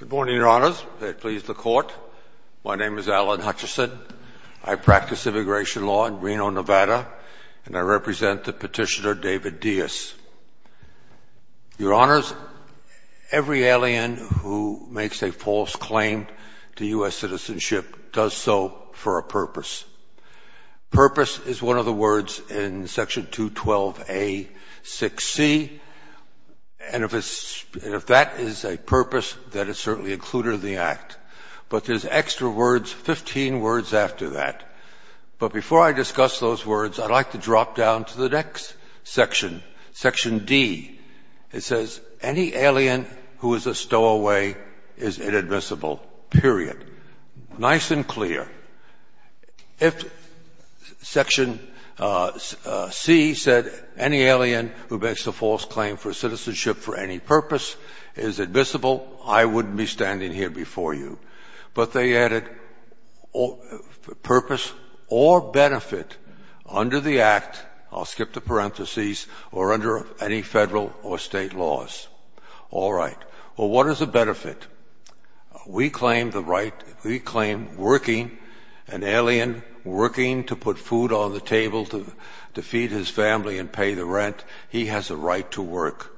Good morning, your honors. May it please the court. My name is Alan Hutchison. I practice immigration law in Reno, Nevada, and I represent the petitioner David Diaz. Your honors, every alien who makes a false claim to U.S. citizenship does so for a purpose. Purpose is one of the words in section 212A6C, and if that is a purpose, that is certainly included in the act. But there's extra words, 15 words after that. But before I discuss those words, I'd like to drop down to the next section, section D. It says, any alien who is a stowaway is inadmissible, period. Nice and clear. If section C said any alien who makes a false claim for citizenship for any purpose is admissible, I wouldn't be standing here before you. But they added purpose or benefit under the act, I'll skip the parentheses, or under any federal or state laws. All right. Well, what is the benefit? We claim the right, we claim working, an alien working to put food on the table to feed his family and pay the rent, he has a right to work.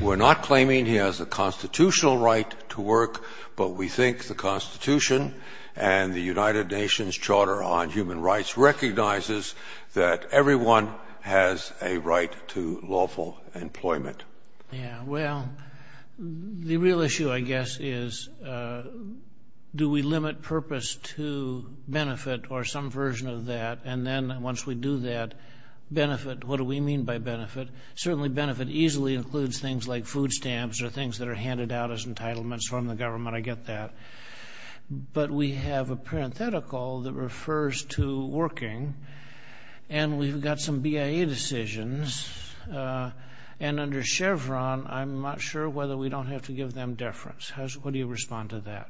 We're not claiming he has a constitutional right to work, but we think the Constitution and the United Nations Charter on Human Rights recognizes that everyone has a right to lawful employment. Yeah, well, the real issue, I guess, is do we limit purpose to benefit or some version of that? And then once we do that, benefit, what do we mean by benefit? Certainly benefit easily includes things like food stamps or things that are handed out as entitlements from the government, I get that. But we have a parenthetical that refers to working, and we've got some BIA decisions and under Chevron, I'm not sure whether we don't have to give them deference. How do you respond to that?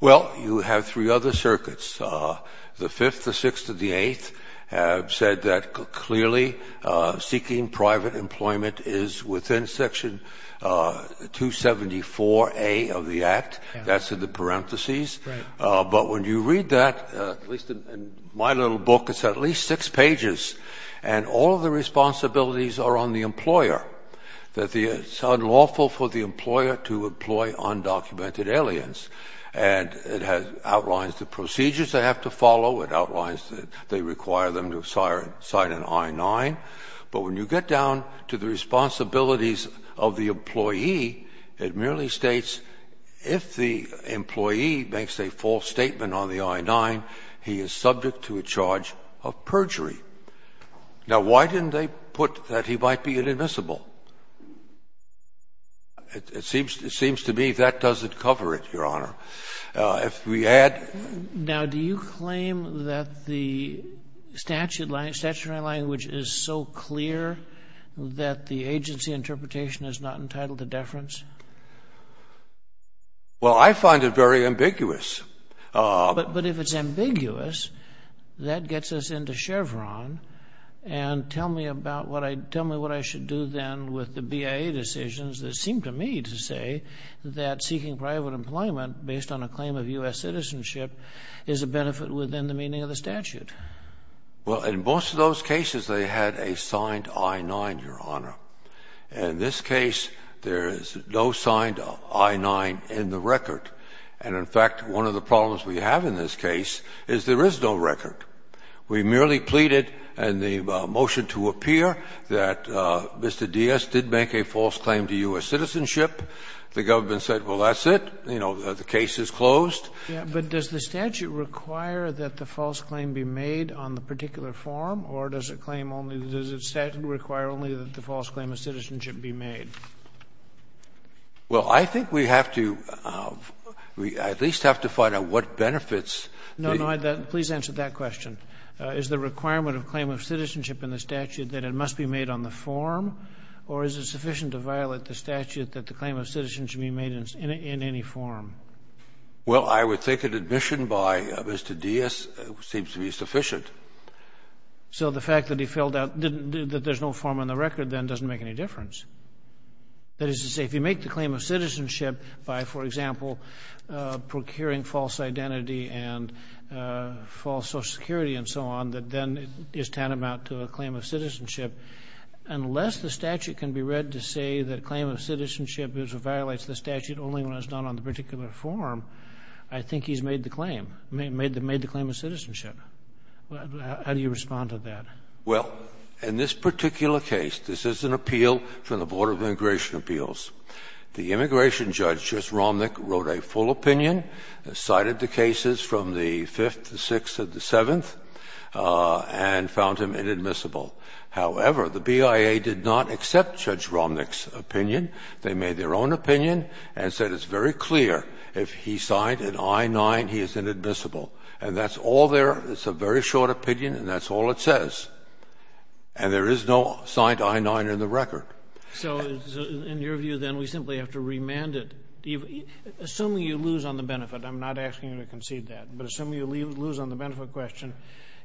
Well, you have three other circuits, the fifth, the sixth and the eighth have said that clearly, seeking private employment is within Section 274A of the Act, that's in the parentheses. But when you read that, at least in my little book, it's at least six pages, and all of the responsibilities are on the employer, that it's unlawful for the employer to employ undocumented aliens. And it outlines the procedures they have to follow, it outlines that they require them to sign an I-9. But when you get down to the responsibilities of the employee, it merely states if the employee makes a false statement on the I-9, he is subject to a charge of perjury. Now, why didn't they put that he might be inadmissible? It seems to me that doesn't cover it, Your Honor. If we add... Now, do you claim that the statutory language is so clear that the agency interpretation is not entitled to deference? Well, I find it very ambiguous. But if it's ambiguous, that gets us into Chevron. And tell me what I should do then with the BIA decisions that seem to me to say that seeking private employment based on a claim of U.S. citizenship is a benefit within the meaning of the statute. Well, in most of those cases, they had a signed I-9, Your Honor. In this case, there is no signed I-9 in the record. And in fact, one of the problems we have in this case is there is no record. We merely pleaded in the motion to appear that Mr. Diaz did make a false claim to U.S. citizenship. The government said, well, that's it. You know, the case is closed. But does the statute require that the false claim be made on the particular form, or does it claim only... Does the statute require only that the false claim of citizenship be made? Well, I think we have to at least have to find out what benefits... No, no. Please answer that question. Is the requirement of claim of citizenship in the statute that it must be made on the form, or is it sufficient to violate the statute that the claim of citizenship be made in any form? Well, I would think an admission by Mr. Diaz seems to be sufficient. So the fact that he filled out that there's no form on the record, then, doesn't make any difference. That is to say, if you make the claim of citizenship by, for example, procuring false identity and false Social Security and so on, that then is tantamount to a claim of citizenship. Unless the statute can be read to say that a claim of citizenship violates the statute only when it's done on the particular form, I think he's made the claim, made the claim of citizenship. How do you respond to that? Well, in this particular case, this is an appeal from the Board of Immigration Appeals. The immigration judge, Judge Romnick, wrote a full opinion, cited the cases from the 5th, the 6th, and the 7th, and found him inadmissible. However, the BIA did not accept Judge Romnick's opinion. They made their own opinion and said it's very clear if he signed an I-9, he is inadmissible. And that's all there. It's a very short opinion, and that's all it says. And there is no signed I-9 in the record. So in your view, then, we simply have to remand it. Assuming you lose on the benefit, I'm not asking you to concede that, but assuming you lose on the benefit question,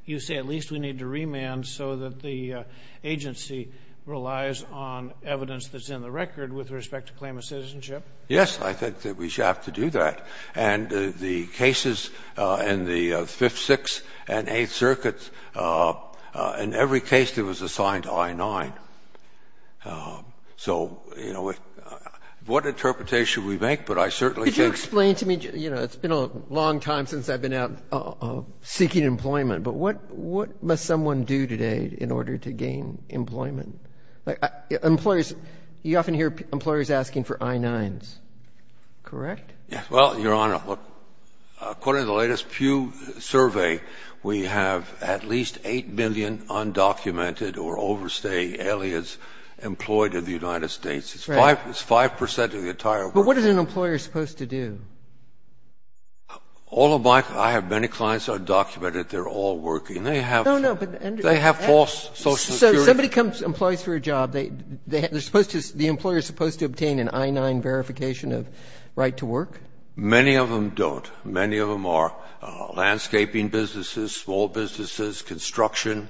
you say at least we need to remand so that the agency relies on evidence that's in the record with respect to claim of citizenship? Yes, I think that we have to do that. And the cases in the 5th, 6th, and 8th circuits, in every case, there was a signed I-9. So, you know, what interpretation we make, but I certainly think... Could you explain to me, you know, it's been a long time since I've been out seeking employment, but what must someone do today in order to gain employment? Employers, you often hear employers asking for I-9s, correct? Well, Your Honor, according to the latest Pew survey, we have at least 8 million undocumented or overstay alias employed in the United States. It's 5% of the entire world. But what is an employer supposed to do? All of my... I have many clients that are undocumented. They're all working. No, no, but... They have false social security... So somebody comes and employs for a job. The employer is supposed to obtain an I-9 verification of right to work? Many of them don't. Many of them are landscaping businesses, small businesses, construction.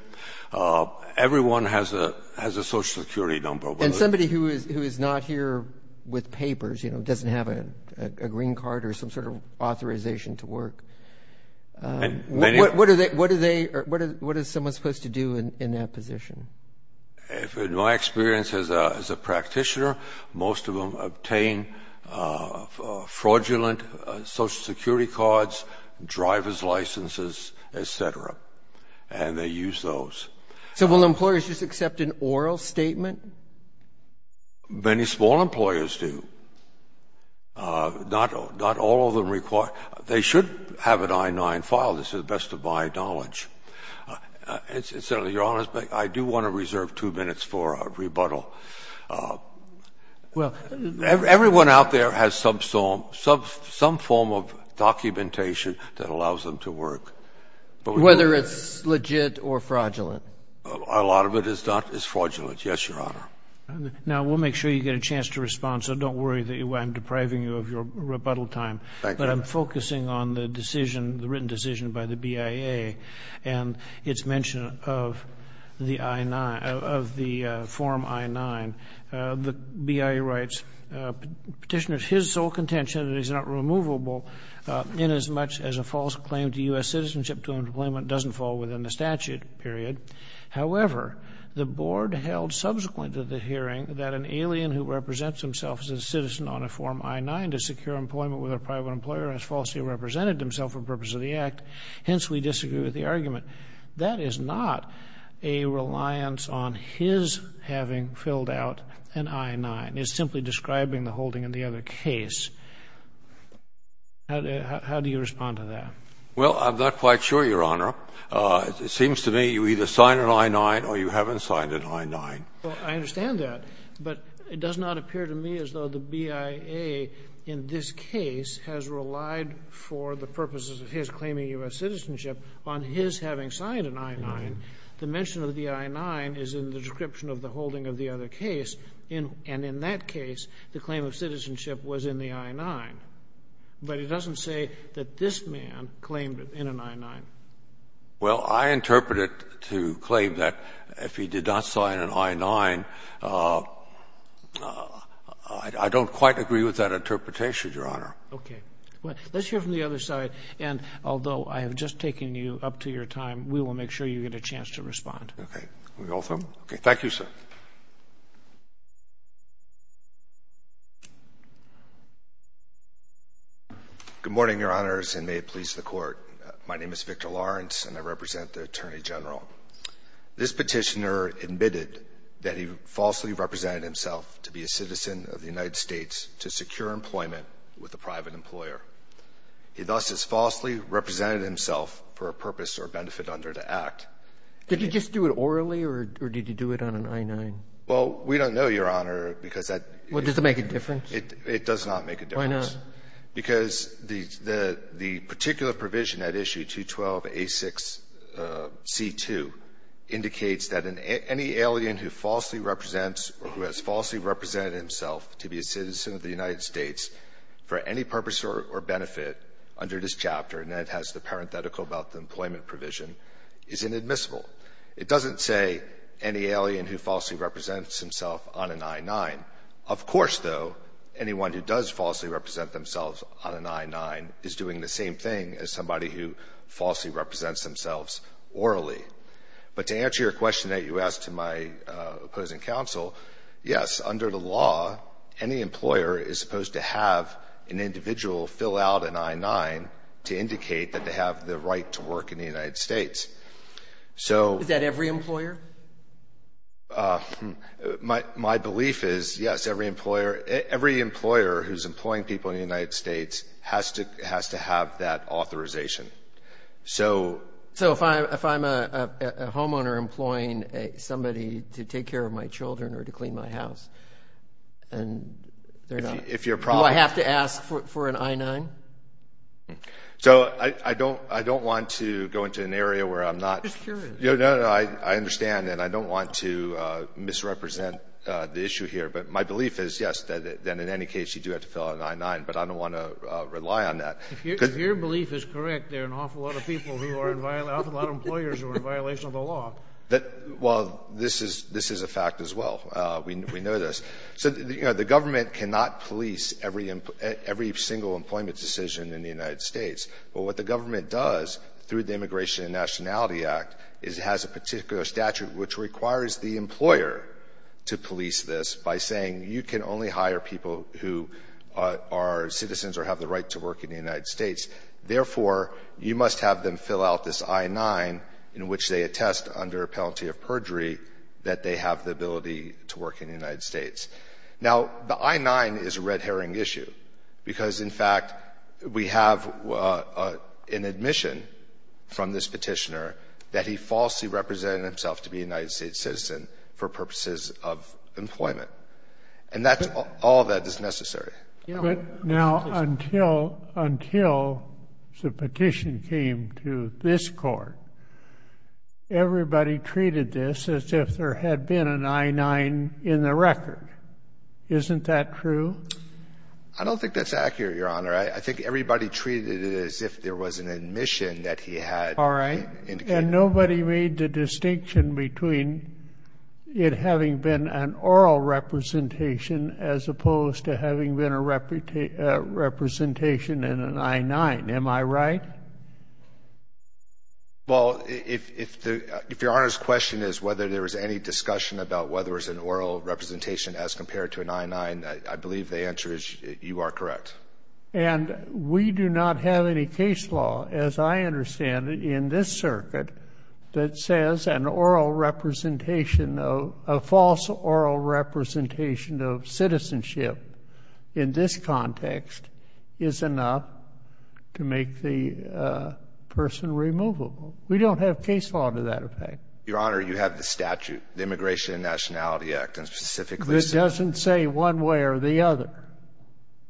Everyone has a social security number. And somebody who is not here with papers, you know, doesn't have a green card or some sort of authorization to work, what is someone supposed to do in that position? If, in my experience as a practitioner, most of them obtain fraudulent social security cards, driver's licenses, etc. And they use those. So will employers just accept an oral statement? Many small employers do. Not all of them require... They should have an I-9 file, to the best of my knowledge. Senator, Your Honor, I do want to reserve two minutes for a rebuttal. Everyone out there has some form of documentation that allows them to work. Whether it's legit or fraudulent? A lot of it is fraudulent. Yes, Your Honor. Now, we'll make sure you get a chance to respond. So don't worry that I'm depriving you of your time. It's a very important decision by the BIA. And it's mention of the I-9, of the Form I-9. The BIA writes, Petitioner, his sole contention is not removable inasmuch as a false claim to U.S. citizenship to employment doesn't fall within the statute, period. However, the board held subsequent to the hearing that an alien who represents himself as a citizen on a Form I-9 to secure employment with a private employer has falsely represented himself for purpose of the act. Hence, we disagree with the argument. That is not a reliance on his having filled out an I-9. It's simply describing the holding of the other case. How do you respond to that? Well, I'm not quite sure, Your Honor. It seems to me you either signed an I-9 or you haven't signed an I-9. Well, I understand that. But it does not appear to me as though the BIA in this case has relied for the purposes of his claiming U.S. citizenship on his having signed an I-9. The mention of the I-9 is in the description of the holding of the other case. And in that case, the claim of citizenship was in the I-9. But it doesn't say that this man claimed it in an I-9. Well, I interpret it to claim that if he did not sign an I-9, I don't quite agree with that interpretation, Your Honor. Okay. Well, let's hear from the other side. And although I have just taken you up to your time, we will make sure you get a chance to respond. Okay. Can we go with him? Okay. Thank you, sir. Good morning, Your Honors, and may it please the Court. My name is Victor Lawrence, and I represent the Attorney General. This petitioner admitted that he falsely represented himself to be a citizen of the United States to secure employment with a private employer. He thus has falsely represented himself for a purpose or benefit under the act. Did he just do it orally, or did he do it on an I-9? Well, we don't know, Your Honor, because that— Well, does it make a difference? It does not make a difference. Why not? Because the particular provision at issue 212A6C2 indicates that any alien who falsely represents or who has falsely represented himself to be a citizen of the United States for any purpose or benefit under this chapter, and it has the parenthetical about the employment provision, is inadmissible. It doesn't say any alien who falsely represents himself on an I-9. Of course, though, anyone who does falsely represent themselves on an I-9 is doing the same thing as somebody who falsely represents themselves orally. But to answer your question that you asked to my opposing counsel, yes, under the law, any employer is supposed to have an individual fill out an I-9 to indicate that they have the right to work in the United States. So— Is that every employer? My belief is, yes, every employer—every employer who's employing people in the United States has to have that authorization. So— So if I'm a homeowner employing somebody to take care of my children or to clean my house, and they're not— If you're— Do I have to ask for an I-9? So I don't—I don't want to go into an area where I'm not— I'm just curious. No, no, no. I understand, and I don't want to misrepresent the issue here. But my belief is, yes, that in any case you do have to fill out an I-9. But I don't want to rely on that. If your belief is correct, there are an awful lot of people who are in—an awful lot of employers who are in violation of the law. Well, this is a fact as well. We know this. So the government cannot police every single employment decision in the United States. But what the government does through the Immigration and Nationality Act is it has a particular statute which requires the employer to police this by saying, you can only hire people who are citizens or have the right to work in the United States. Therefore, you must have them fill out this I-9 in which they attest under a penalty of perjury that they have the ability to work in the United States. Now, the I-9 is a red herring issue because, in fact, we have an admission from this court that the employer is a citizen and has represented himself to be a United States citizen for purposes of employment. And that's—all of that is necessary. But now, until—until the petition came to this Court, everybody treated this as if there had been an I-9 in the record. Isn't that true? I don't think that's accurate, Your Honor. I think everybody treated it as if there was an admission that he had indicated— All right. And nobody made the distinction between it having been an oral representation as opposed to having been a representation in an I-9. Am I right? Well, if Your Honor's question is whether there was any discussion about whether it was an oral representation as compared to an I-9, I believe the answer is you are correct. And we do not have any case law, as I understand it, in this circuit that says an oral representation of—a false oral representation of citizenship in this context is enough to make the person removable. We don't have case law to that effect. Your Honor, you have the statute, the Immigration and Nationality Act, and specifically— It doesn't say one way or the other.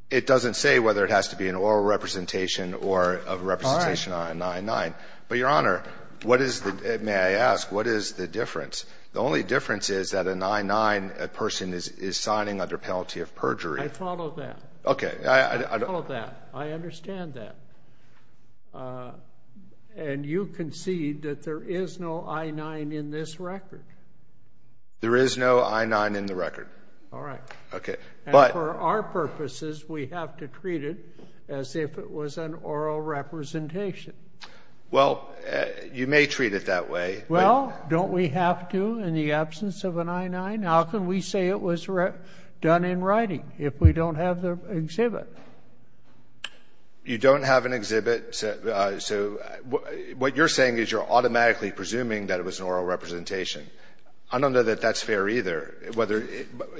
It doesn't say whether it has to be an oral representation or a representation on an I-9. But, Your Honor, what is the—may I ask, what is the difference? The only difference is that an I-9, a person is signing under penalty of perjury. I follow that. Okay. I follow that. I understand that. And you concede that there is no I-9 in this record? There is no I-9 in the record. All right. Okay. And for our purposes, we have to treat it as if it was an oral representation. Well, you may treat it that way. Well, don't we have to in the absence of an I-9? How can we say it was done in writing if we don't have the exhibit? You don't have an exhibit. So what you're saying is you're automatically presuming that it was an oral representation. I don't know that that's fair either. Whether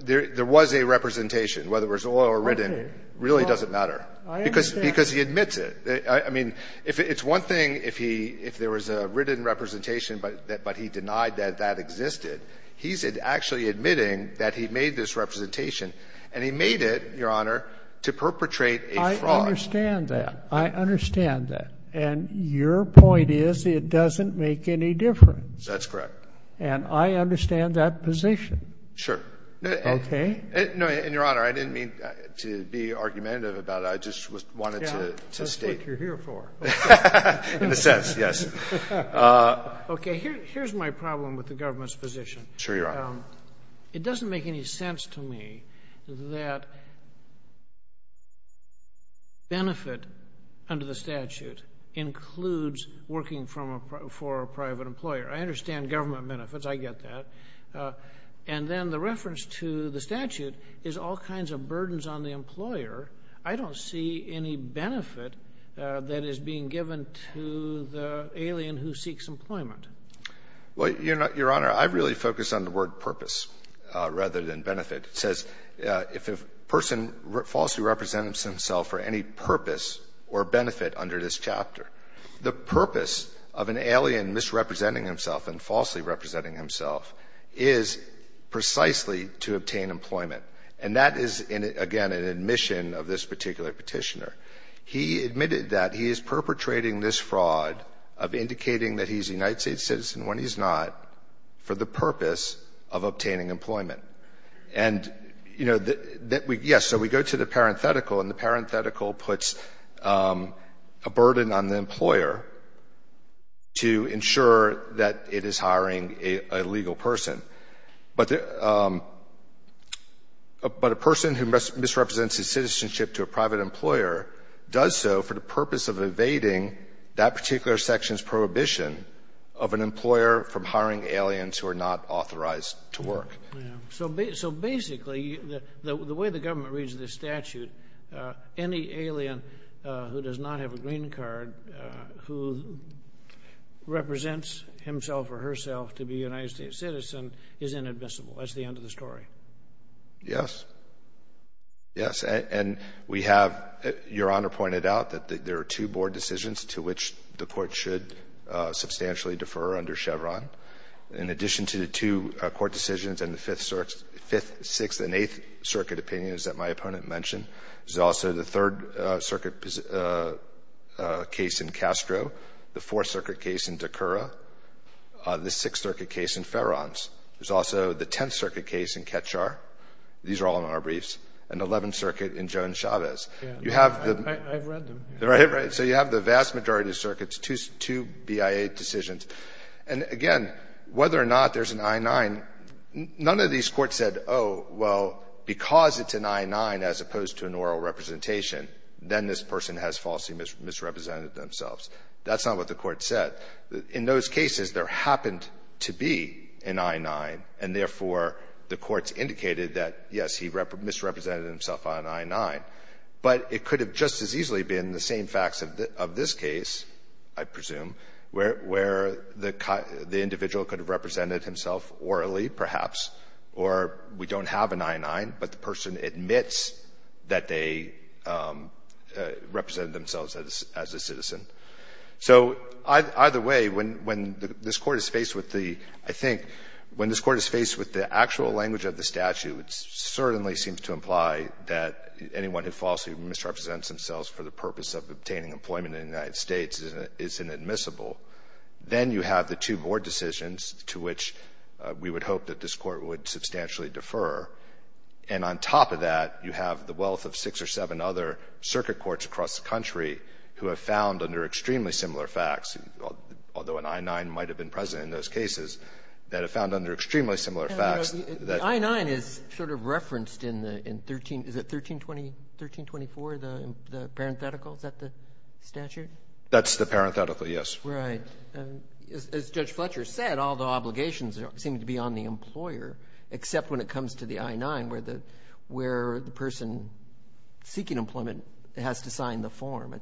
there was a representation, whether it was oral or written, really doesn't matter. I understand. Because he admits it. I mean, it's one thing if there was a written representation, but he denied that that existed. He's actually admitting that he made this representation. And he made it, Your Honor, to perpetrate a fraud. I understand that. I understand that. And your point is it doesn't make any difference. That's correct. And I understand that position. Sure. Okay. No, and Your Honor, I didn't mean to be argumentative about it. I just wanted to state— That's what you're here for. In a sense, yes. Okay. Here's my problem with the government's position. Sure, Your Honor. It doesn't make any sense to me that benefit under the statute includes working for a private employer. I understand government benefits. I get that. And then the reference to the statute is all kinds of burdens on the employer. I don't see any benefit that is being given to the alien who seeks employment. Well, Your Honor, I really focus on the word purpose rather than benefit. It says if a person falsely represents himself for any purpose or benefit under this chapter, the purpose of an alien misrepresenting himself and falsely representing himself is precisely to obtain employment. And that is, again, an admission of this particular petitioner. He admitted that he is perpetrating this fraud of indicating that he's a United States citizen when he's not for the purpose of obtaining employment. And, you know, yes. So we go to the parenthetical and the parenthetical puts a burden on the employer to ensure that it is hiring a legal person. But a person who misrepresents his citizenship to a private employer does so for the purpose of evading that particular section's prohibition of an employer from hiring aliens who are not authorized to work. So basically, the way the government reads this statute, any alien who does not have a green card who represents himself or herself to be a United States citizen is inadmissible. That's the end of the story. Yes. Yes. And we have, Your Honor, pointed out that there are two board decisions to which the court should substantially defer under Chevron. In addition to the two court decisions and the fifth, sixth, and eighth circuit opinions that my opponent mentioned, there's also the third circuit case in Castro, the fourth circuit case in DeCoura, the sixth circuit case in Ferrans. There's also the 10th circuit case in Ketchar. These are all in our briefs. And the 11th circuit in Joan Chavez. You have the... I've read them. Right, right. So you have the vast majority of circuits, two BIA decisions. And again, whether or not there's an I-9, none of these courts said, oh, well, because it's an I-9 as opposed to an oral representation, then this person has falsely misrepresented themselves. That's not what the court said. In those cases, there happened to be an I-9, and therefore, the courts indicated that, yes, he misrepresented himself on I-9. But it could have just as easily been the same facts of this case, I presume, where the individual could have represented himself orally, perhaps, or we don't have an I-9, but the person admits that they represented themselves as a citizen. So either way, when this court is faced with the, I think, when this court is faced with the actual language of the statute, it certainly seems to imply that anyone who falsely misrepresents themselves for the purpose of obtaining employment in the United States is inadmissible. Then you have the two board decisions to which we would hope that this court would substantially defer. And on top of that, you have the wealth of six or seven other circuit courts across the country who have found under extremely similar facts, although an I-9 might have been present in those cases, that have found under extremely similar facts. The I-9 is sort of referenced in the 13, is it 1324, the parenthetical? Is that the statute? That's the parenthetical, yes. Right. As Judge Fletcher said, all the obligations seem to be on the employer, except when it comes to the I-9, where the person seeking employment has to sign the form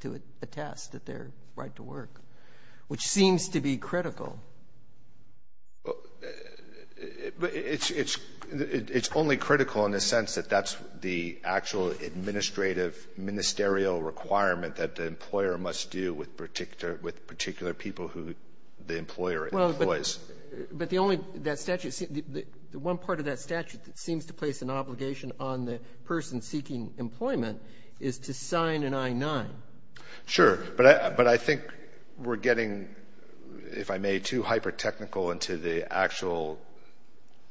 to attest that their right to work, which seems to be critical. But it's only critical in the sense that that's the actual administrative, ministerial requirement that the employer must do with particular people who the employer employs. But the only, that statute, the one part of that statute that seems to place an obligation on the person seeking employment is to sign an I-9. Sure, but I think we're getting, if I may, too hyper-technical into the actual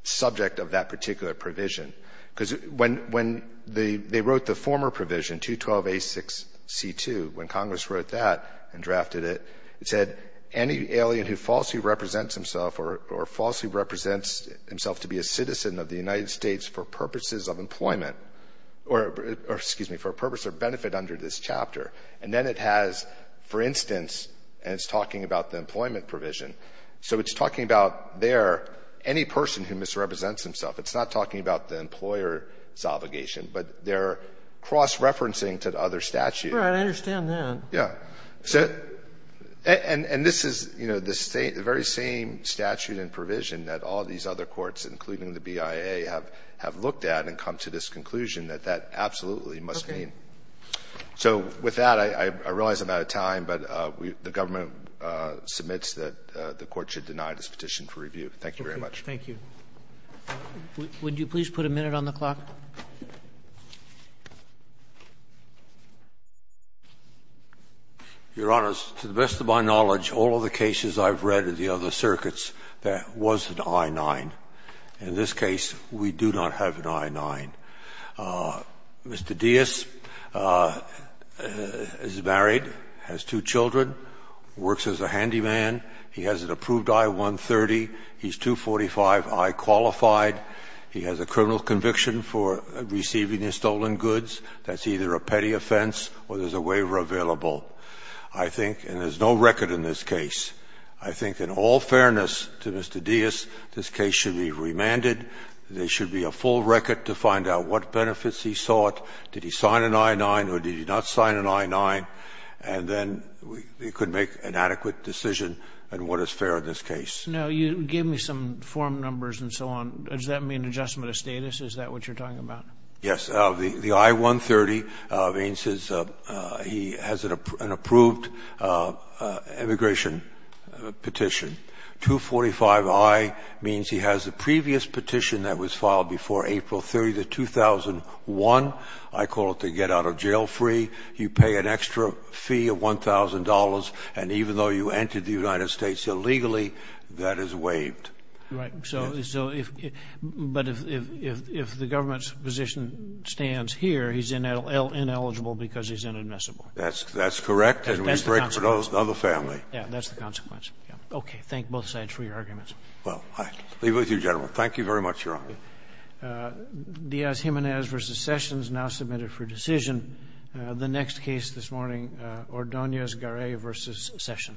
subject of that particular provision. Because when they wrote the former provision, 212A6C2, when Congress wrote that and drafted it, it said, any alien who falsely represents himself or falsely represents himself to be a citizen of the United States for purposes of employment, or, excuse me, for a purpose or benefit under this chapter. And then it has, for instance, and it's talking about the employment provision. So it's talking about there, any person who misrepresents himself. It's not talking about the employer's obligation, but they're cross-referencing to the other statute. Right, I understand that. Yeah. And this is, you know, the very same statute and provision that all these other courts, including the BIA, have looked at and come to this conclusion that that absolutely must mean. So with that, I realize I'm out of time, but the government submits that the court should deny this petition for review. Thank you very much. Thank you. Would you please put a minute on the clock? Your Honor, to the best of my knowledge, all of the cases I've read of the other circuits, there was an I-9. In this case, we do not have an I-9. Mr. Diaz is married, has two children, works as a handyman. He has an approved I-130. He's 245I qualified. He has a criminal conviction for receiving stolen goods. That's either a petty offense or there's a waiver available. I think, and there's no record in this case, I think in all fairness to Mr. Diaz, this case should be remanded. There should be a full record to find out what benefits he sought. Did he sign an I-9 or did he not sign an I-9? And then we could make an adequate decision on what is fair in this case. Now, you gave me some form numbers and so on. Does that mean adjustment of status? Is that what you're talking about? Yes, the I-130 means he has an approved immigration petition. 245I means he has the previous petition that was filed before April 30, 2001. I call it the get-out-of-jail-free. You pay an extra fee of $1,000. And even though you entered the United States illegally, that is waived. Right. So, but if the government's position stands here, he's ineligible because he's inadmissible. That's correct. And we break for another family. Yeah, that's the consequence. Okay. Thank both sides for your arguments. Well, I leave it with you, gentlemen. Thank you very much, Your Honor. Diaz-Jimenez v. Sessions, now submitted for decision. The next case this morning, Ordonez-Garay v. Sessions.